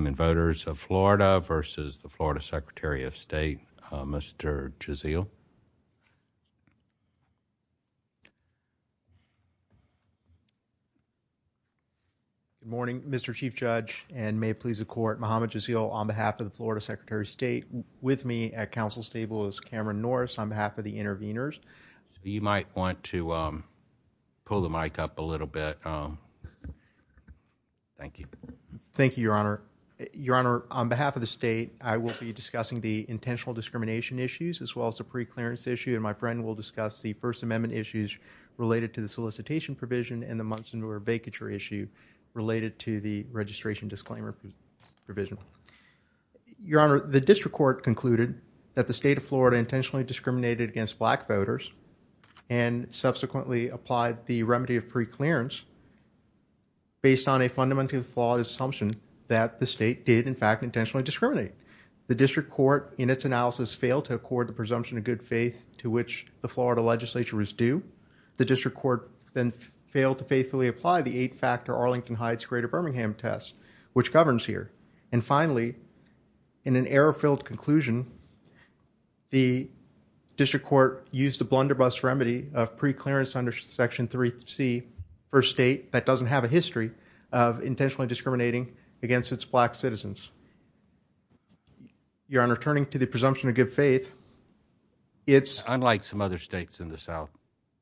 Good morning, Mr. Chief Judge, and may it please the Court, Muhammad Jazeel on behalf of the Florida Secretary of State. With me at Council Stable is Cameron Norris on behalf of the interveners. You might want to pull the mic up a little bit. Thank you. Thank you, Your Honor. Your Honor, on behalf of the state, I will be discussing the intentional discrimination issues as well as the preclearance issue, and my friend will discuss the First Amendment issues related to the solicitation provision and the Munson-Muir vacature issue related to the registration disclaimer provision. Your Honor, the District Court concluded that the state of Florida intentionally discriminated against black voters and subsequently applied the remedy of preclearance based on a fundamental relative flawed assumption that the state did, in fact, intentionally discriminate. The District Court, in its analysis, failed to accord the presumption of good faith to which the Florida legislature was due. The District Court then failed to faithfully apply the eight-factor Arlington Heights-Greater-Birmingham test, which governs here. And finally, in an error-filled conclusion, the District Court used the blunderbuss remedy of preclearance under Section 3C for a state that doesn't have a history of intentionally discriminating against its black citizens. Your Honor, turning to the presumption of good faith, it's – Unlike some other states in the South,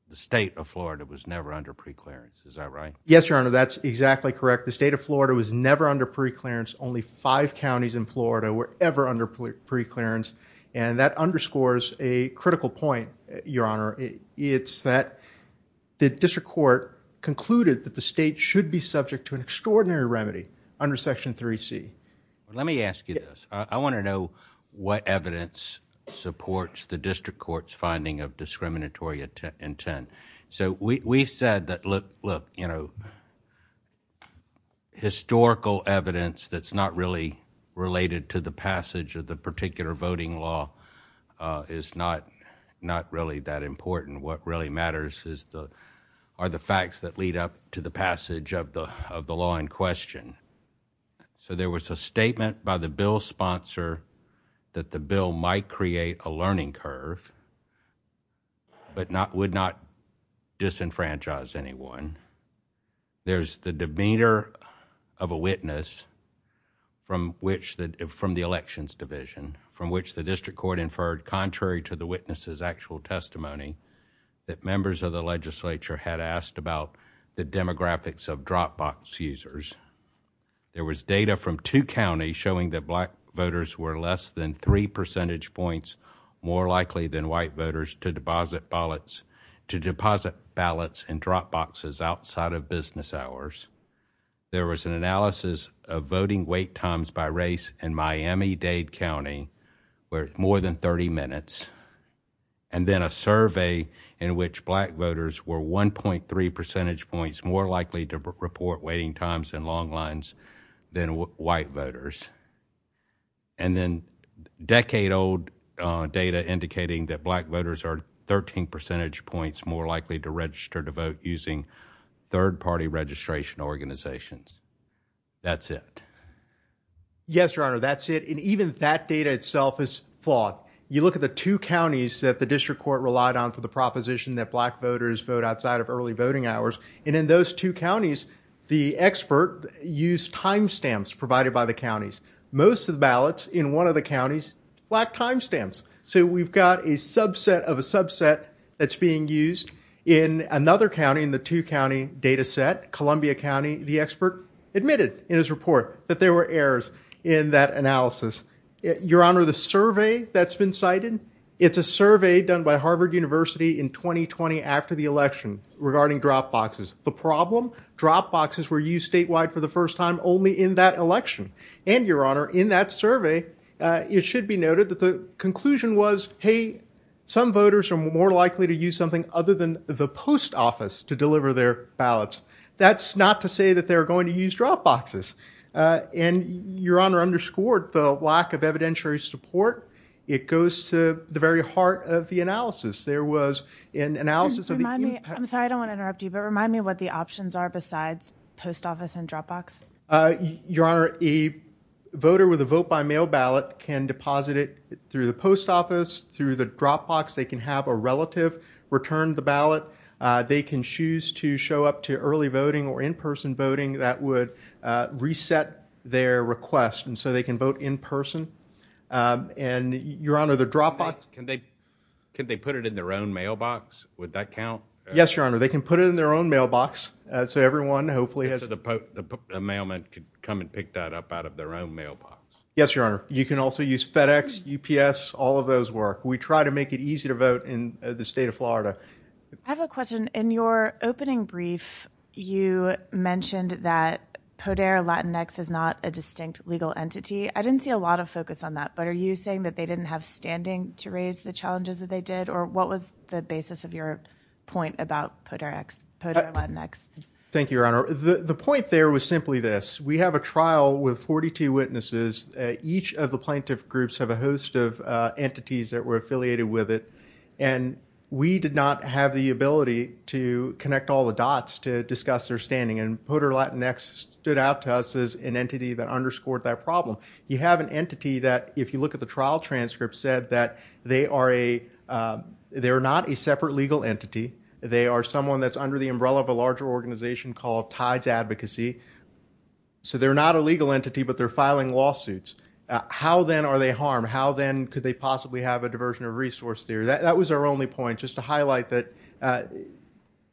the state of Florida was never under preclearance. Is that right? Yes, Your Honor. That's exactly correct. The state of Florida was never under preclearance. Only five counties in Florida were ever under preclearance, and that underscores a critical point, Your Honor. It's that the District Court concluded that the state should be subject to an extraordinary remedy under Section 3C. Let me ask you this. I want to know what evidence supports the District Court's finding of discriminatory intent. So, we've said that, look, you know, historical evidence that's not really related to the not really that important. What really matters is the – are the facts that lead up to the passage of the law in question. So, there was a statement by the bill's sponsor that the bill might create a learning curve but not – would not disenfranchise anyone. There's the demeanor of a witness from which the – from the Elections Division, from which the District Court inferred, contrary to the witness's actual testimony, that members of the legislature had asked about the demographics of Dropbox users. There was data from two counties showing that black voters were less than three percentage points more likely than white voters to deposit ballots – to deposit ballots in Dropboxes outside of business hours. There was an analysis of voting wait times by race in Miami-Dade County where it's more than 30 minutes. And then a survey in which black voters were 1.3 percentage points more likely to report waiting times in long lines than white voters. And then decade-old data indicating that black voters are 13 percentage points more likely to register to vote using third-party registration organizations. That's it. Yes, Your Honor. That's it. And even that data itself is flawed. You look at the two counties that the District Court relied on for the proposition that black voters vote outside of early voting hours, and in those two counties, the expert used timestamps provided by the counties. Most of the ballots in one of the counties lacked timestamps. So we've got a subset of a subset that's being used in another county in the two-county data set, Columbia County. The expert admitted in his report that there were errors in that analysis. Your Honor, the survey that's been cited, it's a survey done by Harvard University in 2020 after the election regarding Dropboxes. The problem? Dropboxes were used statewide for the first time only in that election. And, Your Honor, in that survey, it should be noted that the conclusion was, hey, some voters are more likely to use something other than the post office to deliver their ballots. That's not to say that they're going to use Dropboxes. And Your Honor underscored the lack of evidentiary support. It goes to the very heart of the analysis. There was an analysis of the impact. Remind me, I'm sorry, I don't want to interrupt you, but remind me what the options are besides post office and Dropbox? Your Honor, a voter with a vote-by-mail ballot can deposit it through the post office, through the Dropbox. They can have a relative return the ballot. They can choose to show up to early voting or in-person voting. That would reset their request. And so they can vote in person. And Your Honor, the Dropbox Can they put it in their own mailbox? Would that count? Yes, Your Honor. They can put it in their own mailbox. So everyone hopefully has a mailman could come and pick that up out of their own mailbox. Yes, Your Honor. You can also use FedEx, UPS, all of those work. We try to make it easy to vote in the state of Florida. I have a question. In your opening brief, you mentioned that Poder Latinx is not a distinct legal entity. I didn't see a lot of focus on that, but are you saying that they didn't have standing to raise the challenges that they did? Or what was the basis of your point about Poder Latinx? Thank you, Your Honor. The point there was simply this. We have a trial with 42 witnesses. Each of the plaintiff groups have a host of entities that were affiliated with it. And we did not have the ability to connect all the dots to discuss their standing. And Poder Latinx stood out to us as an entity that underscored that problem. You have an entity that, if you look at the trial transcript, said that they are not a separate legal entity. They are someone that's under the umbrella of a larger organization called Tides Advocacy. So they're not a legal entity, but they're filing lawsuits. How then are they harmed? How then could they possibly have a diversion of resource there? That was our only point, just to highlight that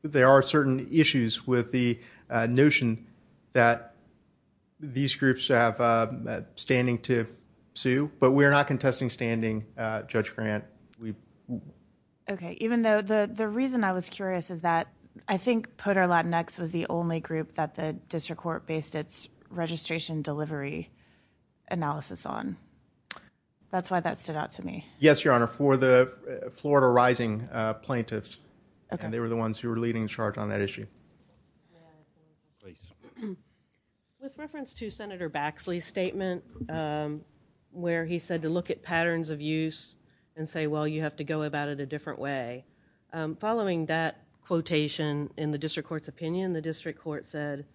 there are certain issues with the notion that these groups have standing to sue. But we're not contesting standing, Judge Grant. OK, even though the reason I was curious is that I think Poder Latinx was the only group that the district court based its registration delivery analysis on. That's why that stood out to me. Yes, Your Honor, for the Florida Rising plaintiffs. And they were the ones who were leading the charge on that issue. With reference to Senator Baxley's statement, where he said to look at patterns of use and say, well, you have to go about it a different way, following that quotation in the district court's opinion, the district court said,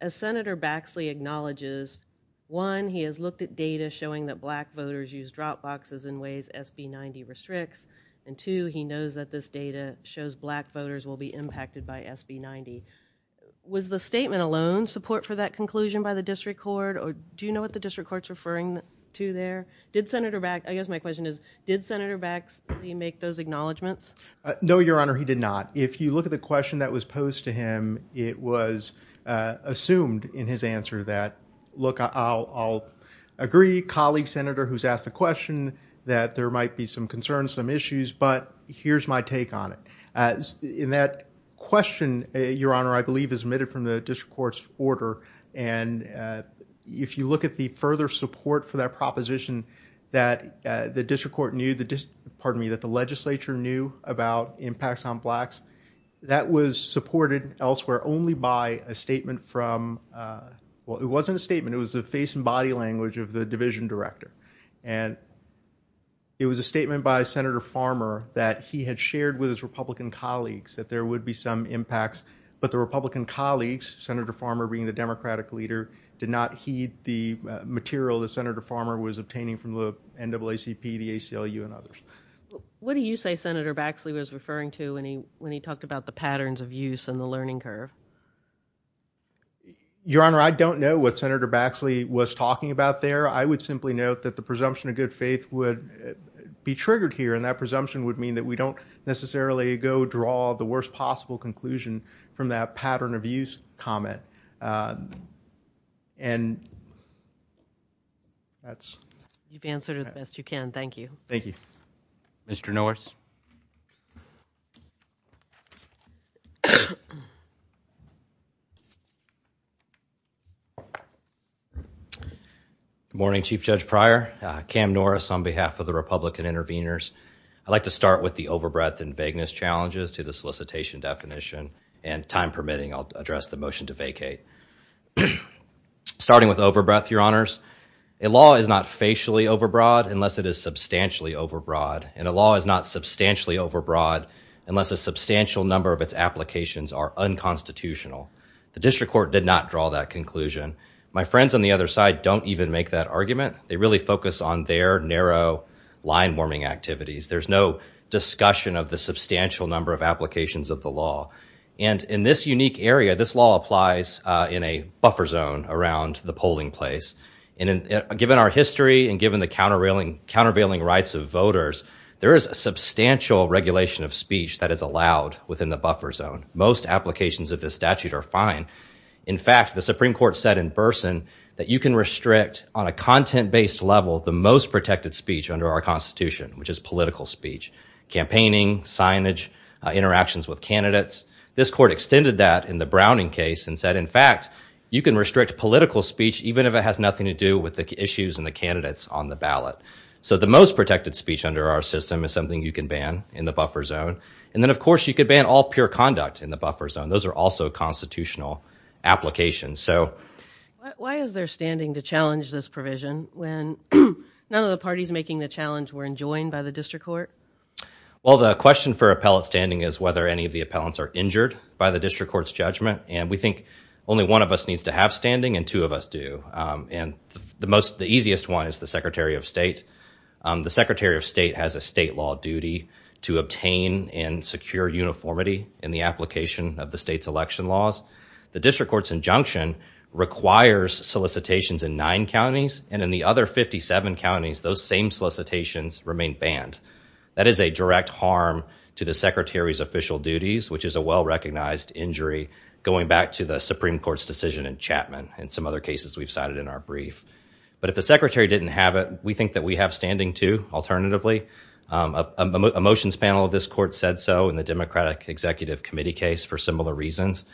as Senator Baxley acknowledges, one, he has looked at data showing that black voters use drop boxes in ways SB90 restricts, and two, he knows that this data shows black voters will be impacted by SB90. Was the statement alone support for that conclusion by the district court, or do you know what the district court's referring to there? Did Senator Baxley, I guess my question is, did Senator Baxley make those acknowledgments? No, Your Honor, he did not. If you look at the question that was posed to him, it was assumed in his answer that, look, I'll agree, colleague senator who's asked the question, that there might be some concerns, some issues, but here's my take on it. In that question, Your Honor, I believe is omitted from the district court's order, and if you look at the further support for that proposition that the district court knew, pardon me, that the legislature knew about impacts on blacks, that was supported elsewhere only by a statement from, well, it wasn't a statement, it was the face and body language of the division director, and it was a statement by Senator Farmer that he had shared with his Republican colleagues that there would be some impacts, but the Republican colleagues, Senator Farmer being the Democratic leader, did not heed the material that Senator Farmer was obtaining from the NAACP, the ACLU, and others. What do you say Senator Baxley was referring to when he talked about the patterns of use and the learning curve? Your Honor, I don't know what Senator Baxley was talking about there. I would simply note that the presumption of good faith would be triggered here, and that would clearly go draw the worst possible conclusion from that pattern of use comment, and that's... You've answered it the best you can. Thank you. Thank you. Mr. Norris. Good morning, Chief Judge Pryor, Cam Norris on behalf of the Republican interveners. I'd like to start with the overbreadth and vagueness challenges to the solicitation definition, and time permitting, I'll address the motion to vacate. Starting with overbreadth, Your Honors, a law is not facially overbroad unless it is substantially overbroad, and a law is not substantially overbroad unless a substantial number of its applications are unconstitutional. The district court did not draw that conclusion. My friends on the other side don't even make that argument. They really focus on their narrow line warming activities. There's no discussion of the substantial number of applications of the law. And in this unique area, this law applies in a buffer zone around the polling place. Given our history and given the countervailing rights of voters, there is a substantial regulation of speech that is allowed within the buffer zone. Most applications of this statute are fine. In fact, the Supreme Court said in Burson that you can restrict on a content-based level the most protected speech under our Constitution, which is political speech, campaigning, signage, interactions with candidates. This court extended that in the Browning case and said, in fact, you can restrict political speech even if it has nothing to do with the issues and the candidates on the ballot. So the most protected speech under our system is something you can ban in the buffer zone. And then, of course, you could ban all pure conduct in the buffer zone. Those are also constitutional applications. So why is there standing to challenge this provision when none of the parties making the challenge were enjoined by the district court? Well, the question for appellate standing is whether any of the appellants are injured by the district court's judgment. And we think only one of us needs to have standing and two of us do. And the easiest one is the Secretary of State. The Secretary of State has a state law duty to obtain and secure uniformity in the application of the state's election laws. The district court's injunction requires solicitations in nine counties. And in the other 57 counties, those same solicitations remain banned. That is a direct harm to the Secretary's official duties, which is a well-recognized injury going back to the Supreme Court's decision in Chapman and some other cases we've cited in our brief. But if the Secretary didn't have it, we think that we have standing, too, alternatively. A motions panel of this court said so in the Democratic Executive Committee case for similar reasons.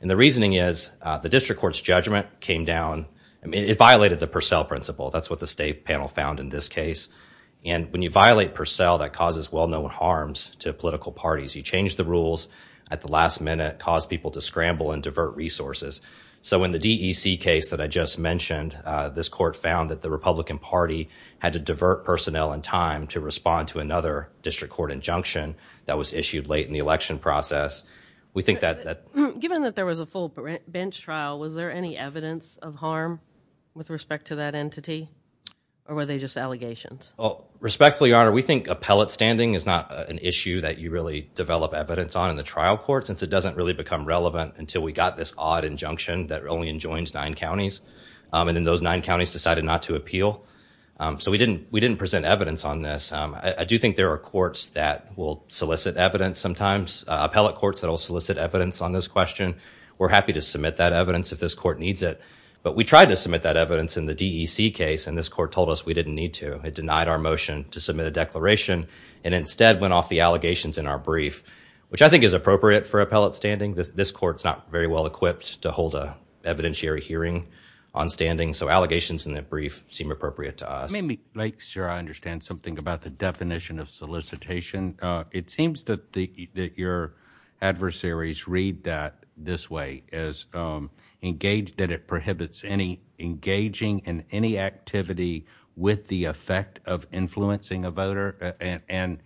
And the reasoning is the district court's judgment came down. It violated the Purcell principle. That's what the state panel found in this case. And when you violate Purcell, that causes well-known harms to political parties. You change the rules at the last minute, cause people to scramble and divert resources. So in the DEC case that I just mentioned, this court found that the Republican Party had to divert personnel and time to respond to another district court injunction that was issued late in the election process. We think that... Given that there was a full bench trial, was there any evidence of harm with respect to that entity? Or were they just allegations? Respectfully, Your Honor, we think appellate standing is not an issue that you really develop evidence on in the trial court, since it doesn't really become relevant until we got this odd injunction that only enjoins nine counties. And in those nine counties decided not to appeal. So we didn't present evidence on this. I do think there are courts that will solicit evidence sometimes, appellate courts that will solicit evidence on this question. We're happy to submit that evidence if this court needs it. But we tried to submit that evidence in the DEC case, and this court told us we didn't need to. It denied our motion to submit a declaration, and instead went off the allegations in our brief, which I think is appropriate for appellate standing. This court's not very well equipped to hold a evidentiary hearing on standing, so allegations in that brief seem appropriate to us. Let me make sure I understand something about the definition of solicitation. It seems that your adversaries read that this way, that it prohibits any engaging in any activity with the effect of influencing a voter, and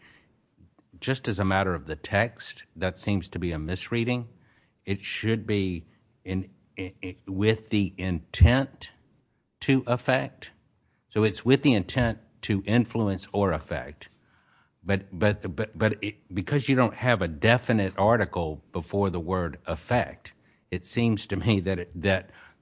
just as a matter of the text, that it should be with the intent to effect? So it's with the intent to influence or effect, but because you don't have a definite article before the word effect, it seems to me that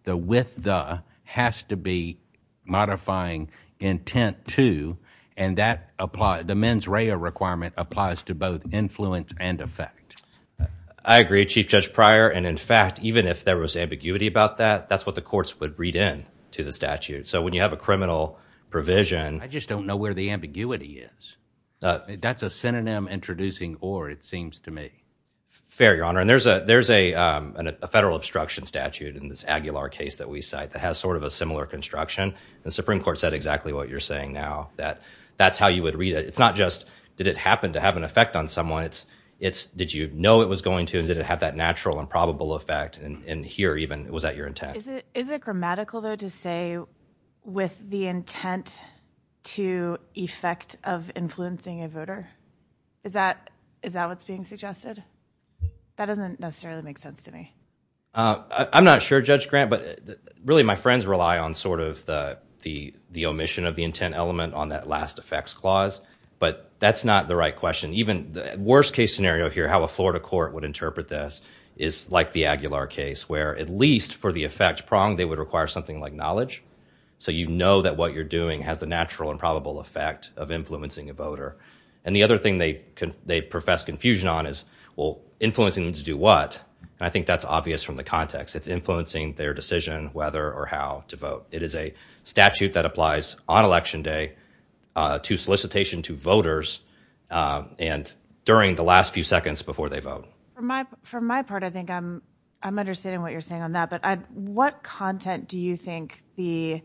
the with the has to be modifying intent to, and the mens rea requirement applies to both influence and effect. I agree, Chief Judge Pryor, and in fact, even if there was ambiguity about that, that's what the courts would read in to the statute. So when you have a criminal provision... I just don't know where the ambiguity is. That's a synonym introducing or, it seems to me. Fair, Your Honor, and there's a federal obstruction statute in this Aguilar case that we cite that has sort of a similar construction, and the Supreme Court said exactly what you're saying now, that that's how you would read it. It's not just did it happen to have an effect on someone, it's did you know it was going to and did it have that natural and probable effect, and here even, was that your intent? Is it grammatical, though, to say with the intent to effect of influencing a voter? Is that what's being suggested? That doesn't necessarily make sense to me. I'm not sure, Judge Grant, but really my friends rely on sort of the omission of the intent element on that last effects clause, but that's not the right question. Even the worst case scenario here, how a Florida court would interpret this is like the Aguilar case where at least for the effect prong, they would require something like knowledge, so you know that what you're doing has the natural and probable effect of influencing a voter, and the other thing they profess confusion on is, well, influencing them to do what? And I think that's obvious from the context. It's influencing their decision whether or how to vote. It is a statute that applies on Election Day to solicitation to voters and during the last few seconds before they vote. For my part, I think I'm understanding what you're saying on that, but what content do you think the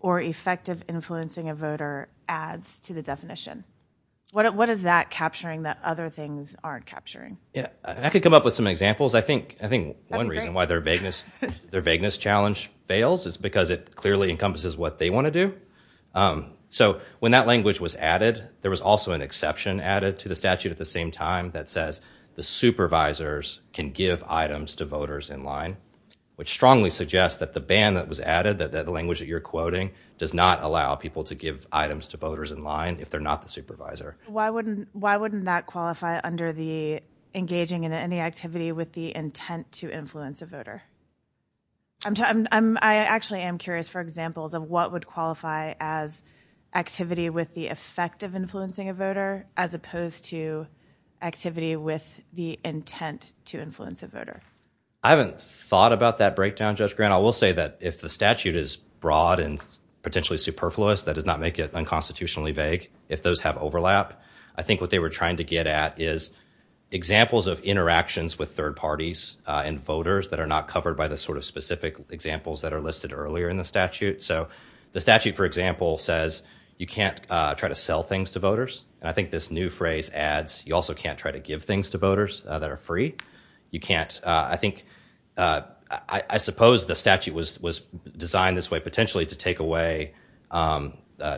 or effect of influencing a voter adds to the definition? What is that capturing that other things aren't capturing? Yeah, I could come up with some examples. I think one reason why their vagueness challenge fails is because it clearly encompasses what they want to do. So when that language was added, there was also an exception added to the statute at the same time that says the supervisors can give items to voters in line, which strongly suggests that the ban that was added, that the language that you're quoting does not allow people to give items to voters in line if they're not the supervisor. Why wouldn't that qualify under the engaging in any activity with the intent to influence a voter? I actually am curious for examples of what would qualify as activity with the effect of influencing a voter as opposed to activity with the intent to influence a voter. I haven't thought about that breakdown, Judge Grant. I will say that if the statute is broad and potentially superfluous, that does not make it unconstitutionally vague. If those have overlap, I think what they were trying to get at is examples of interactions with third parties and voters that are not covered by the sort of specific examples that are listed earlier in the statute. So the statute, for example, says you can't try to sell things to voters. And I think this new phrase adds you also can't try to give things to voters that are free. You can't, I think, I suppose the statute was designed this way potentially to take away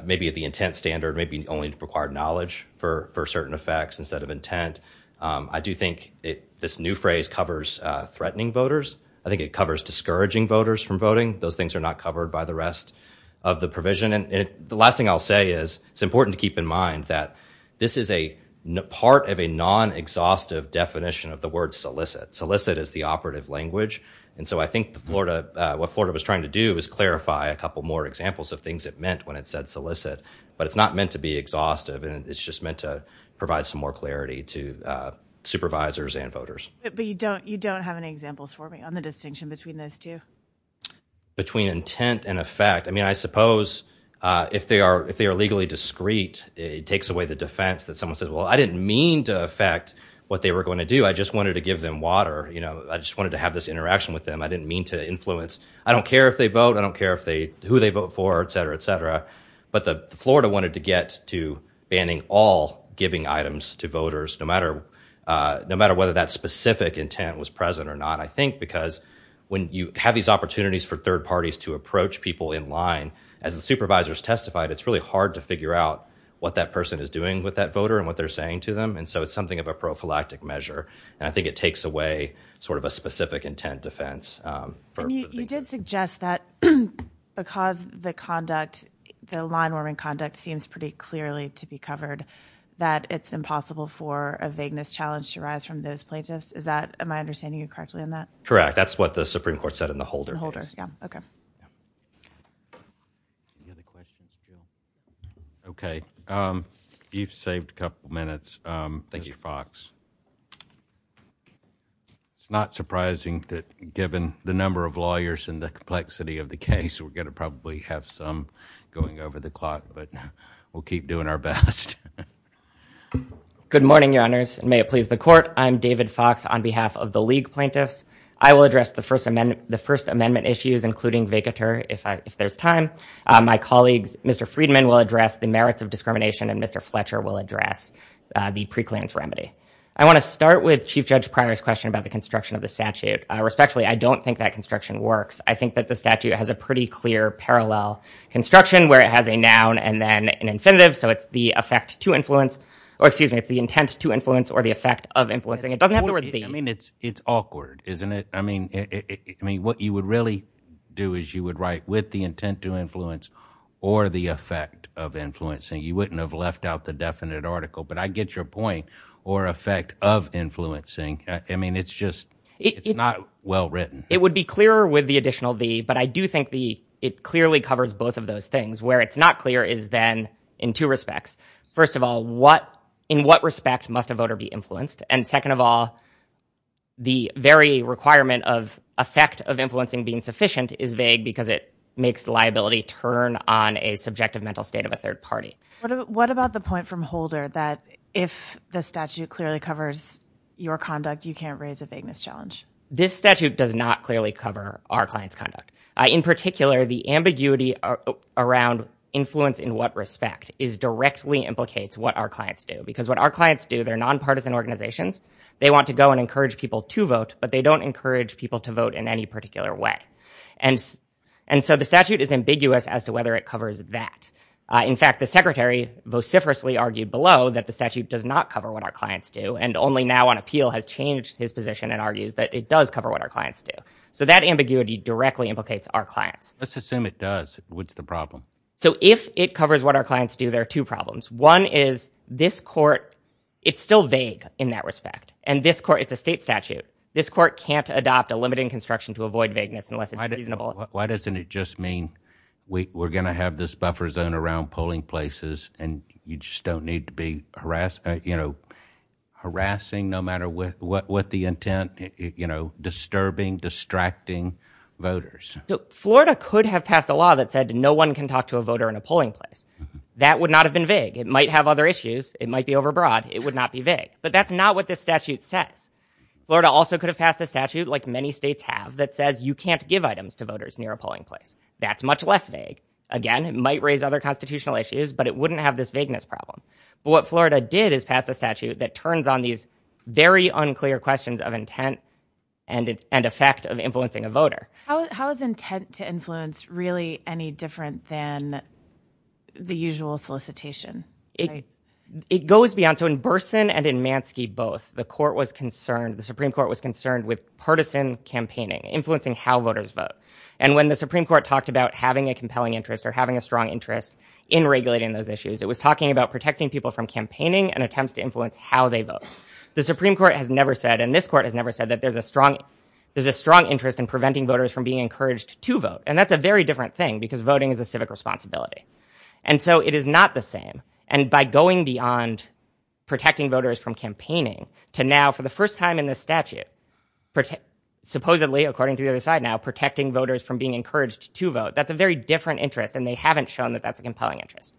maybe the intent standard, maybe only required knowledge for certain effects instead of intent. I do think this new phrase covers threatening voters. I think it covers discouraging voters from voting. Those things are not covered by the rest of the provision. And the last thing I'll say is it's important to keep in mind that this is a part of a non-exhaustive definition of the word solicit. Solicit is the operative language. I think what Florida was trying to do was clarify a couple more examples of things it meant when it said solicit. But it's not meant to be exhaustive. It's just meant to provide some more clarity to supervisors and voters. You don't have any examples for me on the distinction between those two? Between intent and effect. I suppose if they are legally discreet, it takes away the defense that someone said, well, I didn't mean to affect what they were going to do. I just wanted to give them water. I just wanted to have this interaction with them. I didn't mean to influence. I don't care if they vote. I don't care who they vote for, et cetera, et cetera. But Florida wanted to get to banning all giving items to voters, no matter whether that specific intent was present or not. I think because when you have these opportunities for third parties to approach people in line, as the supervisors testified, it's really hard to figure out what that person is doing with that voter and what they're saying to them. And so it's something of a prophylactic measure. I think it takes away sort of a specific intent defense. And you did suggest that because the conduct, the line warming conduct seems pretty clearly to be covered, that it's impossible for a vagueness challenge to rise from those plaintiffs. Is that my understanding you correctly on that? Correct. That's what the Supreme Court said in the Holder case. The Holder, yeah. Okay. Any other questions? Okay. You've saved a couple minutes, Mr. Fox. It's not surprising that given the number of lawyers and the complexity of the case, we're going to probably have some going over the clock, but we'll keep doing our best. Good morning, Your Honors, and may it please the Court. I'm David Fox on behalf of the League Plaintiffs. I will address the First Amendment issues, including vacatur, if there's time. My colleagues, Mr. Friedman, will address the merits of discrimination, and Mr. Fletcher will address the preclearance remedy. I want to start with Chief Judge Primer's question about the construction of the statute. Respectfully, I don't think that construction works. I think that the statute has a pretty clear parallel construction where it has a noun and then an infinitive. So it's the effect to influence, or excuse me, it's the intent to influence or the effect of influencing. It doesn't have to be. I mean, it's awkward, isn't it? I mean, what you would really do is you would write with the intent to influence or the effect of influencing. You wouldn't have left out the definite article, but I get your point. Or effect of influencing. I mean, it's just, it's not well written. It would be clearer with the additional the, but I do think the, it clearly covers both of those things. Where it's not clear is then in two respects. First of all, what, in what respect must a voter be influenced? And second of all, the very requirement of effect of influencing being sufficient is vague because it makes liability turn on a subjective mental state of a third party. What about the point from Holder that if the statute clearly covers your conduct, you can't raise a vagueness challenge? This statute does not clearly cover our client's conduct. In particular, the ambiguity around influence in what respect is directly implicates what our clients do. Because what our clients do, they're nonpartisan organizations. They want to go and encourage people to vote, but they don't encourage people to vote in any particular way. And so the statute is ambiguous as to whether it covers that. In fact, the secretary vociferously argued below that the statute does not cover what our clients do. And only now on appeal has changed his position and argues that it does cover what our clients do. So that ambiguity directly implicates our clients. Let's assume it does. What's the problem? So if it covers what our clients do, there are two problems. One is this court, it's still vague in that respect. And this court, it's a state statute. This court can't adopt a limiting construction to avoid vagueness unless it's reasonable. Why doesn't it just mean we're going to have this buffer zone around polling places and you just don't need to be harassing, no matter what the intent, you know, disturbing, distracting voters? So Florida could have passed a law that said no one can talk to a voter in a polling place. That would not have been vague. It might have other issues. It might be overbroad. It would not be vague. But that's not what this statute says. Florida also could have passed a statute, like many states have, that says you can't give items to voters near a polling place. That's much less vague. Again, it might raise other constitutional issues, but it wouldn't have this vagueness problem. But what Florida did is pass a statute that turns on these very unclear questions of intent and effect of influencing a voter. How is intent to influence really any different than the usual solicitation? It goes beyond. So in Burson and in Manske both, the Supreme Court was concerned with partisan campaigning, influencing how voters vote. And when the Supreme Court talked about having a compelling interest or having a strong interest in regulating those issues, it was talking about protecting people from campaigning and attempts to influence how they vote. The Supreme Court has never said, and this court has never said, that there's a strong interest in preventing voters from being encouraged to vote. And that's a very different thing, because voting is a civic responsibility. And so it is not the same. And by going beyond protecting voters from campaigning to now, for the first time in the statute, supposedly, according to the other side now, protecting voters from being encouraged to vote, that's a very different interest. And they haven't shown that that's a compelling interest.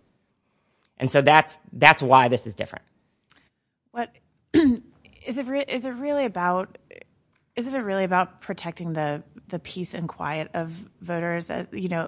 And so that's why this is different. Is it really about protecting the peace and quiet of voters,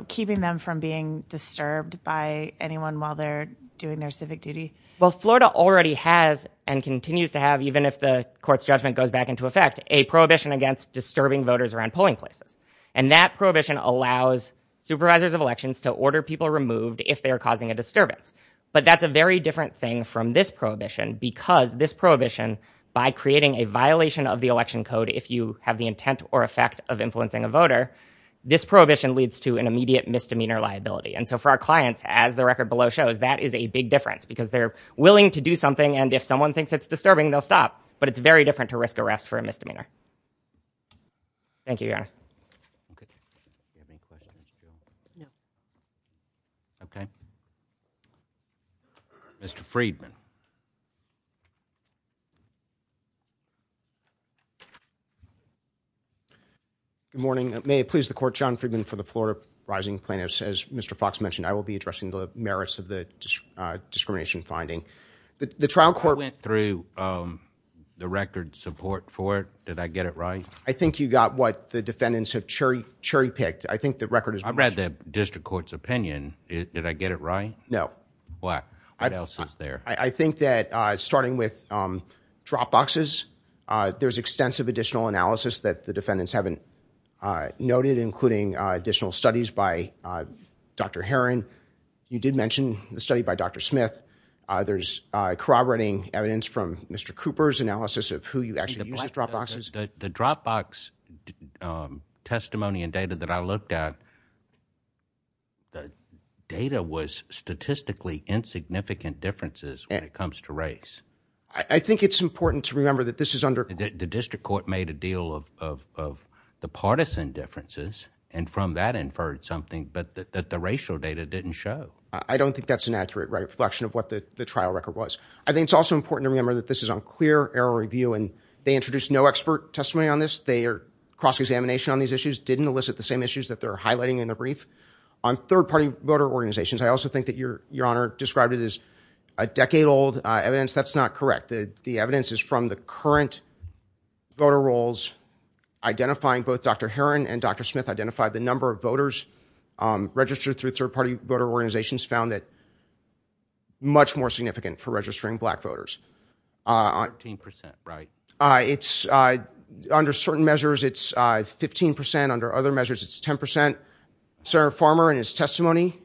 keeping them from being disturbed by anyone while they're doing their civic duty? Well, Florida already has and continues to have, even if the court's judgment goes back into effect, a prohibition against disturbing voters around polling places. And that prohibition allows supervisors of elections to order people removed if they are causing a disturbance. But that's a very different thing from this prohibition, because this prohibition, by creating a violation of the election code if you have the intent or effect of influencing a voter, this prohibition leads to an immediate misdemeanor liability. And so for our clients, as the record below shows, that is a big difference, because they're willing to do something. And if someone thinks it's disturbing, they'll stop. But it's very different to risk arrest for a misdemeanor. Thank you, Your Honor. OK. Do you have any questions, too? No. OK. Mr. Friedman. Good morning. May it please the court, John Friedman for the Florida Rising Plaintiffs. As Mr. Fox mentioned, I will be addressing the merits of the discrimination finding. The trial court went through the record support for it. Did I get it right? I think you got what the defendants have cherry-picked. I think the record is much better. I read the district court's opinion. Did I get it right? No. What else is there? I think that starting with drop boxes, there's extensive additional analysis that the defendants haven't noted, including additional studies by Dr. Heron. You did mention the study by Dr. Smith. There's corroborating evidence from Mr. Cooper's analysis of who you actually use as drop boxes. The drop box testimony and data that I looked at, the data was statistically insignificant differences when it comes to race. I think it's important to remember that this is under- The district court made a deal of the partisan differences and from that inferred something, but that the racial data didn't show. I don't think that's an accurate reflection of what the trial record was. I think it's also important to remember that this is unclear error review and they introduced no expert testimony on this. They are cross-examination on these issues, didn't elicit the same issues that they're highlighting in the brief. On third-party voter organizations, I also think that your honor described it as a decade-old evidence. That's not correct. The evidence is from the current voter rolls, identifying both Dr. Heron and Dr. Smith, identified the number of voters registered through third-party voter organizations found that much more significant for registering black voters. 15 percent, right? It's under certain measures, it's 15 percent. Under other measures, it's 10 percent. Senator Farmer, in his testimony,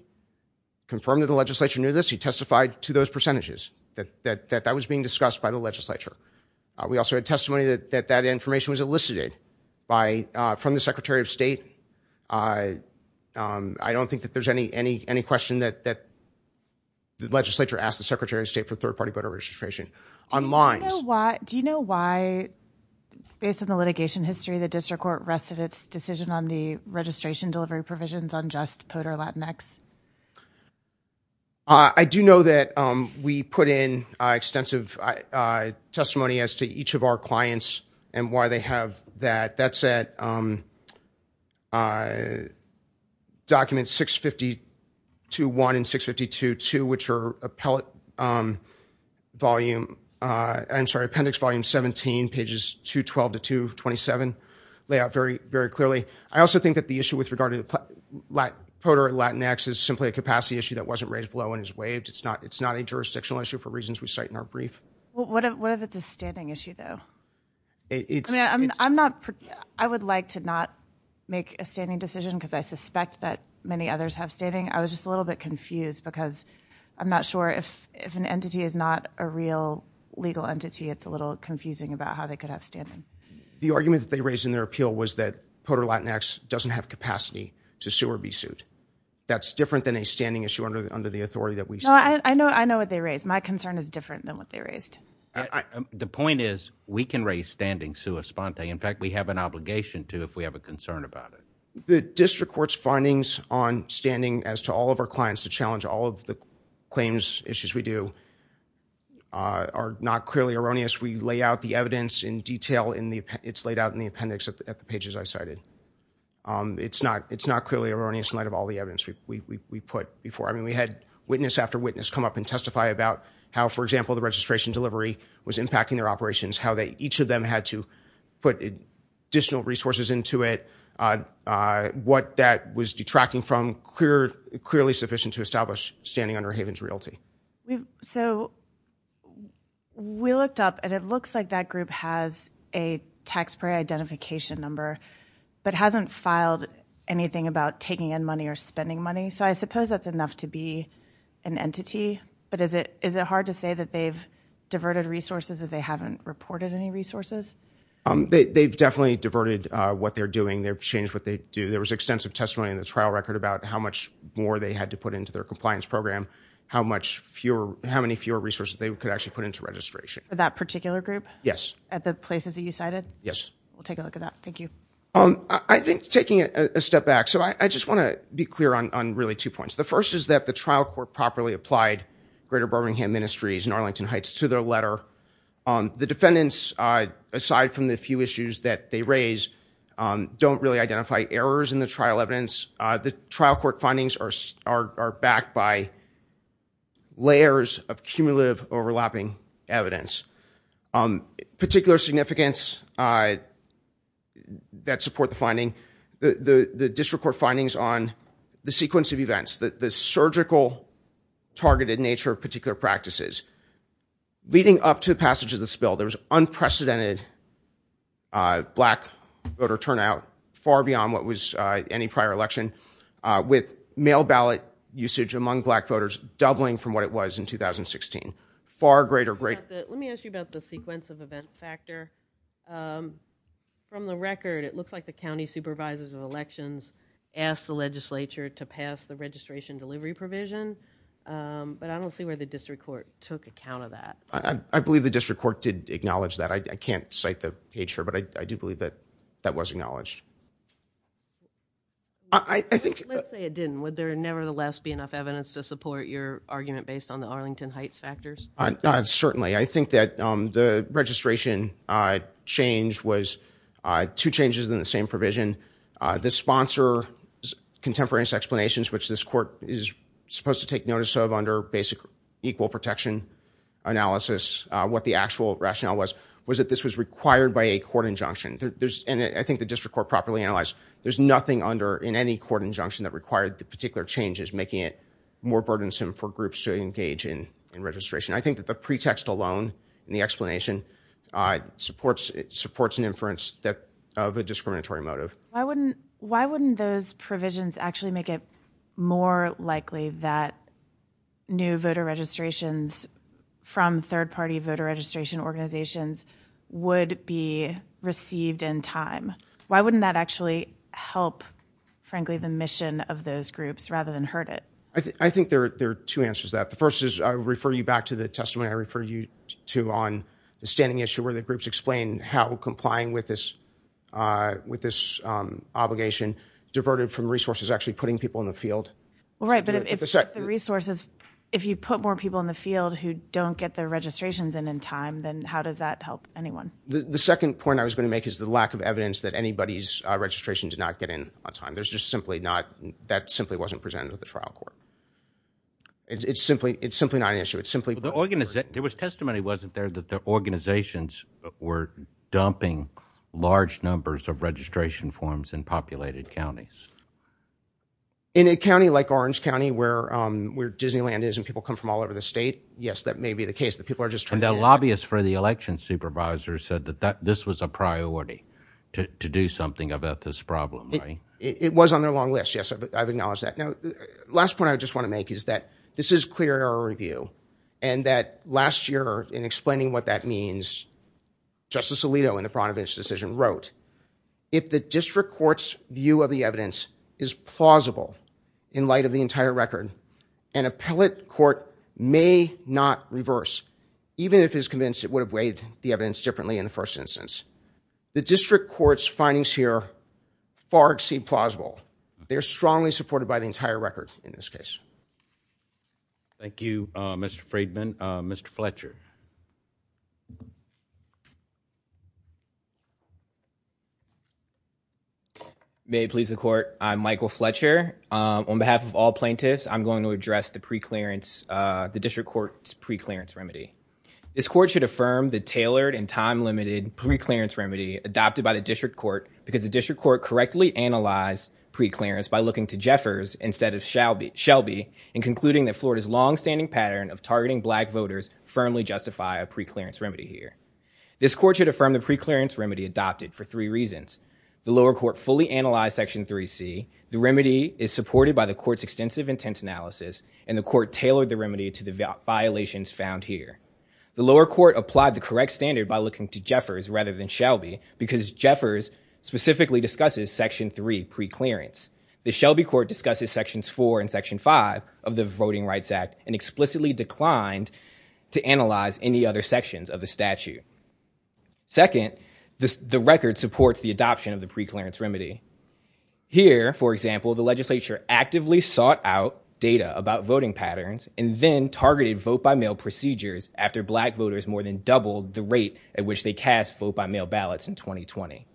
confirmed that the legislature knew this. He testified to those percentages that that was being discussed by the legislature. We also had testimony that that information was elicited by- from the Secretary of State. I don't think that there's any question that the legislature asked the Secretary of State for third-party voter registration. Do you know why, based on the litigation history, the district court rested its decision on the registration delivery provisions on just POTR Latinx? I do know that we put in extensive testimony as to each of our clients and why they have that. That's at Documents 652.1 and 652.2, which are Appellate Volume- I'm sorry, Appendix Volume 17, pages 212 to 227, lay out very, very clearly. I also think that the issue with regard to POTR Latinx is simply a capacity issue that wasn't raised below and is waived. It's not a jurisdictional issue for reasons we cite in our brief. What if it's a standing issue, though? It's- I mean, I'm not- I would like to not make a standing decision because I suspect that many others have standing. I was just a little bit confused because I'm not sure if an entity is not a real legal entity, it's a little confusing about how they could have standing. The argument that they raised in their appeal was that POTR Latinx doesn't have capacity to sue or be sued. That's different than a standing issue under the authority that we- No, I know what they raised. My concern is different than what they raised. The point is we can raise standing sua sponte. In fact, we have an obligation to if we have a concern about it. The district court's findings on standing as to all of our clients to challenge all of the claims issues we do are not clearly erroneous. We lay out the evidence in detail in the- it's laid out in the appendix at the pages I cited. It's not clearly erroneous in light of all the evidence we put before. I mean, we had witness after witness come up and testify about how, for example, the registration delivery was impacting their operations. How each of them had to put additional resources into it. What that was detracting from clearly sufficient to establish standing under Haven's royalty. So we looked up and it looks like that group has a taxpayer identification number but hasn't filed anything about So I suppose that's enough to be an entity. But is it hard to say that they've diverted resources if they haven't reported any resources? They've definitely diverted what they're doing. They've changed what they do. There was extensive testimony in the trial record about how much more they had to put into their compliance program. How many fewer resources they could actually put into registration. That particular group? Yes. At the places that you cited? Yes. We'll take a look at that. Thank you. I think taking a step back. So I just want to be clear on really two points. The first is that the trial court properly applied Greater Birmingham Ministries and Arlington Heights to their letter. The defendants, aside from the few issues that they raise, don't really identify errors in the trial evidence. The trial court findings are backed by layers of cumulative overlapping evidence. Particular significance that support the finding. The district court findings on the sequence of events. The surgical targeted nature of particular practices. Leading up to the passage of this bill, there was unprecedented black voter turnout far beyond what was any prior election. With mail ballot usage among black voters doubling from what it was in 2016. Let me ask you about the sequence of events factor. From the record, it looks like the county supervisors of elections asked the legislature to pass the registration delivery provision. But I don't see where the district court took account of that. I believe the district court did acknowledge that. I can't cite the page here, but I do believe that that was acknowledged. I think... Let's say it didn't. Would there nevertheless be enough evidence to support your argument based on the Arlington Heights factors? Certainly. I think that the registration change was two changes in the same provision. The sponsor's contemporaneous explanations, which this court is supposed to take notice of under basic equal protection analysis, what the actual rationale was, was that this was required by a court injunction. I think the district court properly analyzed there's nothing in any court injunction that required the particular changes, making it more burdensome for groups to engage in registration. I think that the pretext alone in the explanation supports an inference of a discriminatory motive. Why wouldn't those provisions actually make it more likely that new voter registrations from third party voter registration organizations would be received in time? Why wouldn't that actually help, frankly, the mission of those groups rather than hurt it? I think there are two answers to that. The first is I refer you back to the testimony I referred you to on the standing issue where the groups explain how complying with this obligation diverted from resources actually putting people in the field. Well, right, but if the resources, if you put more people in the field who don't get their registrations in in time, then how does that help anyone? The second point I was going to make is the lack of evidence that anybody's registration did not get in on time. There's just simply not, that simply wasn't presented with the trial court. It's simply not an issue. It's simply- The organization, there was testimony wasn't there that the organizations were dumping large numbers of registration forms in populated counties. In a county like Orange County, where Disneyland is and people come from all over the state, yes, that may be the case that people are just trying to- And the lobbyists for the election supervisor said that this was a priority to do something about this problem, right? It was on their long list. Yes, I've acknowledged that. Now, the last point I just want to make is that this is clear error review and that last year in explaining what that means, Justice Alito in the Pradovich decision wrote, if the district court's view of the evidence is plausible in light of the entire record, an appellate court may not reverse, even if it is convinced it would have weighed the evidence differently in the first instance. The district court's findings here far exceed plausible. They're strongly supported by the entire record in this case. Thank you, Mr. Freedman. Mr. Fletcher. May it please the court. I'm Michael Fletcher. On behalf of all plaintiffs, I'm going to address the preclearance, the district court's preclearance remedy. This court should affirm the tailored and time-limited preclearance remedy adopted by the district court because the district court correctly analyzed preclearance by looking to Jeffers instead of Shelby and concluding that Florida's longstanding pattern of targeting black voters firmly justify a preclearance remedy here. This court should affirm the preclearance remedy adopted for three reasons. The lower court fully analyzed Section 3C. The remedy is supported by the court's extensive intent analysis and the court tailored the remedy to the violations found here. The lower court applied the correct standard by looking to Jeffers rather than Shelby because Jeffers specifically discusses Section 3 preclearance. The Shelby court discusses Sections 4 and Section 5 of the Voting Rights Act and explicitly declined to analyze any other sections of the statute. Second, the record supports the adoption of the preclearance remedy. Here, for example, the legislature actively sought out data about voting patterns and then targeted vote-by-mail procedures after black voters more than doubled the rate at which they cast vote-by-mail ballots in 2020.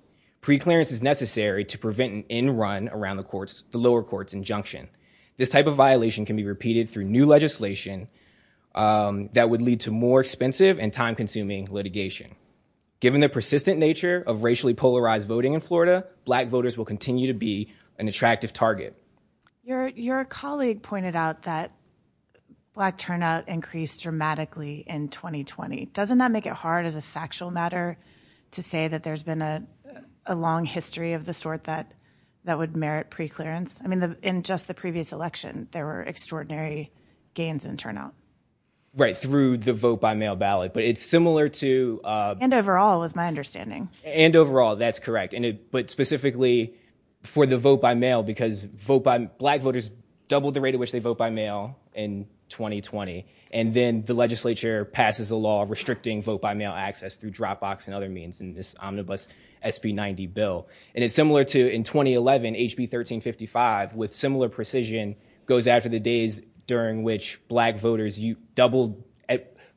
Preclearance is necessary to prevent an end run around the lower court's injunction. This type of violation can be repeated through new legislation that would lead to more expensive and time-consuming litigation. Given the persistent nature of racially polarized voting in Florida, black voters will continue to be an attractive target. Your colleague pointed out that black turnout increased dramatically in 2020. Doesn't that make it hard as a factual matter to say that there's been a long history of the sort that would merit preclearance? I mean, in just the previous election, there were extraordinary gains in turnout. Right, through the vote-by-mail ballot. But it's similar to... And overall, is my understanding. And overall, that's correct. But specifically for the vote-by-mail, because black voters doubled the rate at which they vote by mail in 2020. And then the legislature passes a law restricting vote-by-mail access through Dropbox and other means in this omnibus SB90 bill. And it's similar to in 2011, HB1355, with similar precision, goes after the days during which black voters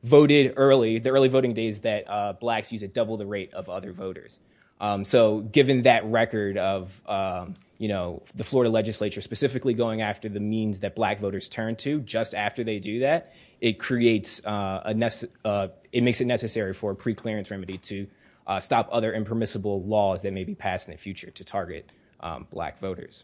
voted early, the early voting days that blacks used to double the rate of other voters. So given that record of the Florida legislature specifically going after the means that black voters turn to just after they do that, it creates a... It makes it necessary for a preclearance remedy to stop other impermissible laws that may be passed in the future to target black voters.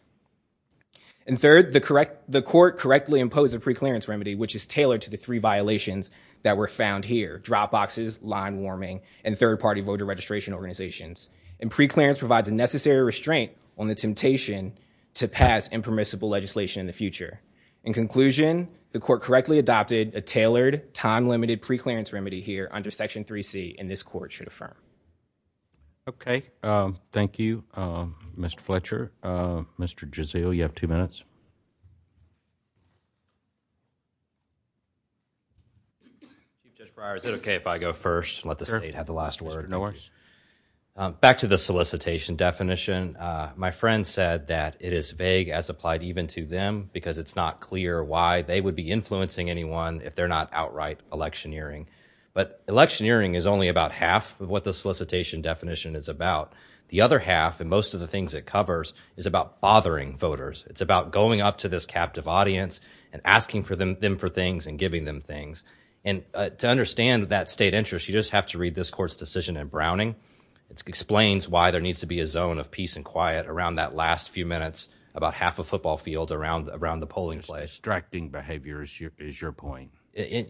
And third, the court correctly imposed a preclearance remedy, which is tailored to the three violations that were found here, Dropboxes, line warming, and third-party voter registration organizations. And preclearance provides a necessary restraint on the temptation to pass impermissible legislation in the future. In conclusion, the court correctly adopted a tailored, time-limited preclearance remedy here under Section 3C and this court should affirm. Okay. Thank you, Mr. Fletcher. Mr. Jazeel, you have two minutes. Chief Judge Breyer, is it okay if I go first? Let the state have the last word. No worries. Back to the solicitation definition. My friend said that it is vague as applied even to them because it's not clear why they would be influencing anyone if they're not outright electioneering. But electioneering is only about half of what the solicitation definition is about. The other half and most of the things it covers is about bothering voters. It's about going up to this captive audience and asking them for things and giving them things. And to understand that state interest, you just have to read this court's decision in Browning. It explains why there needs to be a zone of peace and quiet around that last few minutes, about half a football field around the polling place. Distracting behavior is your point.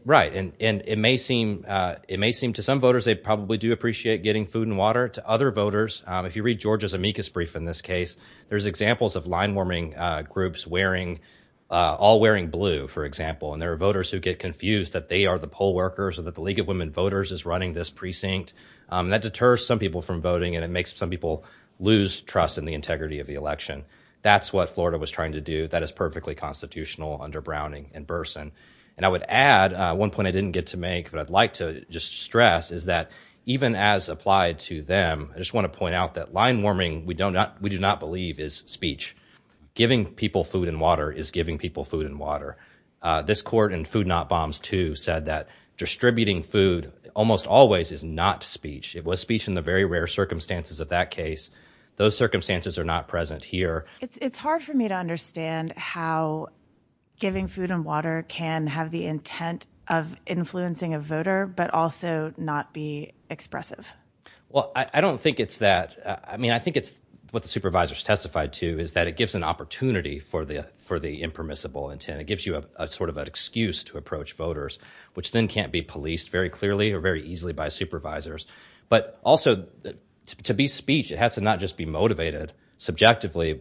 Right. It may seem to some voters they probably do appreciate getting food and water. To other voters, if you read George's amicus brief in this case, there's examples of line warming groups wearing, all wearing blue, for example. And there are voters who get confused that they are the poll workers or that the League of Women Voters is running this precinct. That deters some people from voting and it makes some people lose trust in the integrity of the election. That's what Florida was trying to do. That is perfectly constitutional under Browning in person. And I would add one point I didn't get to make, but I'd like to just stress is that even as applied to them, I just want to point out that line warming, we do not believe is speech. Giving people food and water is giving people food and water. This court in Food Not Bombs 2 said that distributing food almost always is not speech. It was speech in the very rare circumstances of that case. Those circumstances are not present here. It's hard for me to understand how giving food and water can have the intent of influencing a voter, but also not be expressive. Well, I don't think it's that. I mean, I think it's what the supervisors testified to is that it gives an opportunity for the impermissible intent. It gives you a sort of an excuse to approach voters, which then can't be policed very clearly or very easily by supervisors. But also to be speech, it has to not just be motivated subjectively.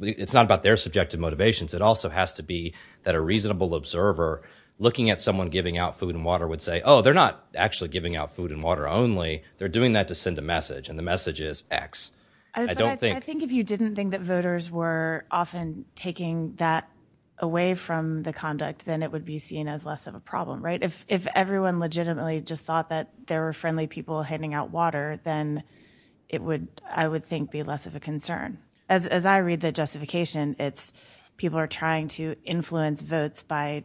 It's not about their subjective motivations. It also has to be that a reasonable observer looking at someone giving out food and water would say, oh, they're not actually giving out food and water only. They're doing that to send a message. And the message is X. I think if you didn't think that voters were often taking that away from the conduct, then it would be seen as less of a problem, right? If everyone legitimately just thought that there were friendly people handing out water, then it would, I would think, be less of a concern. it's people are trying to influence votes by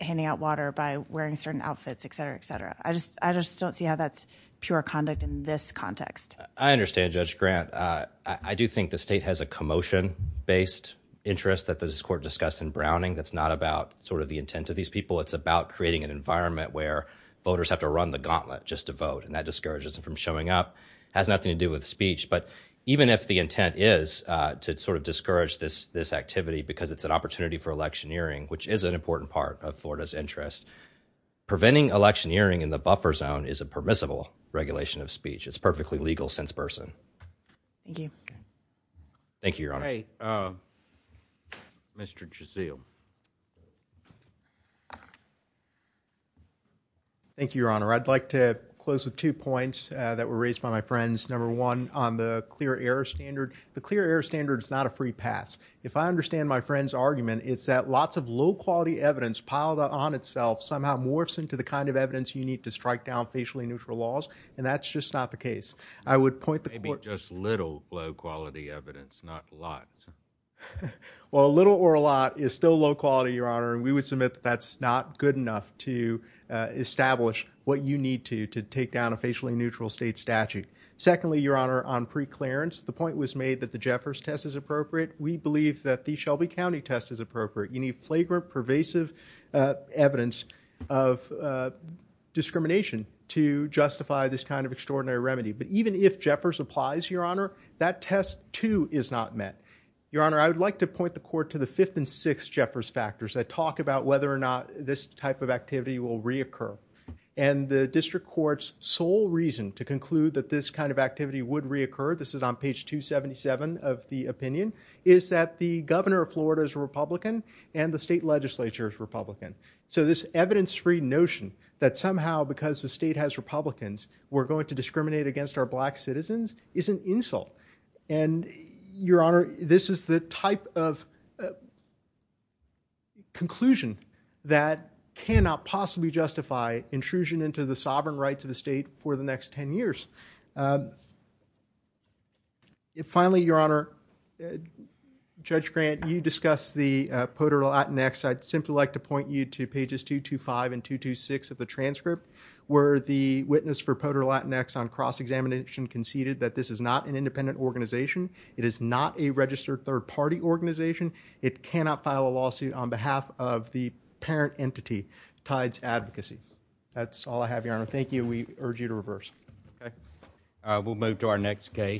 handing out water, by wearing certain outfits, et cetera, et cetera. I just don't see how that's pure conduct in this context. I understand, Judge Grant. I do think the state has a commotion based interest that the court discussed in Browning. That's not about sort of the intent of these people. It's about creating an environment where voters have to run the gauntlet just to vote. And that discourages them from showing up. It has nothing to do with speech. But even if the intent is to sort of discourage this activity because it's an opportunity for electioneering, which is an important part of Florida's interest. Preventing electioneering in the buffer zone is a permissible regulation of speech. It's perfectly legal since Burson. Thank you. Thank you, Your Honor. Mr. Gessell. Thank you, Your Honor. I'd like to close with two points that were raised by my friends. Number one, on the clear error standard. The clear error standard is not a free pass. If I understand my friend's argument, it's that lots of low quality evidence piled on itself somehow morphs into the kind of evidence you need to strike down facially neutral laws. And that's just not the case. I would point the court. Just little low quality evidence, not a lot. Well, a little or a lot is still low quality, Your Honor. And we would submit that's not good enough to establish what you need to to take down a facially neutral state statute. Secondly, Your Honor, on preclearance, the point was made that the Jeffers test is appropriate. We believe that the Shelby County test is appropriate. You need flagrant, pervasive evidence of discrimination to justify this kind of extraordinary remedy. But even if Jeffers applies, Your Honor, that test, too, is not met. Your Honor, I would like to point the court to the fifth and sixth Jeffers factors that talk about whether or not this type of activity will reoccur. And the district court's sole reason to conclude that this kind of activity would reoccur, this is on page 277 of the opinion, is that the governor of Florida is Republican and the state legislature is Republican. So this evidence-free notion that somehow, because the state has Republicans, we're going to discriminate against our black citizens is an insult. And, Your Honor, this is the type of conclusion that cannot possibly justify intrusion into the sovereign rights of the state for the next 10 years. Finally, Your Honor, Judge Grant, you discussed the poter latinx. I'd simply like to point you to pages 225 and 226 of the transcript where the witness for poter latinx on cross-examination conceded that this is not an independent organization. It is not a registered third-party organization. It cannot file a lawsuit on behalf of the parent entity, Tides Advocacy. That's all I have, Your Honor. Thank you. We urge you to reverse. We'll move to our next case.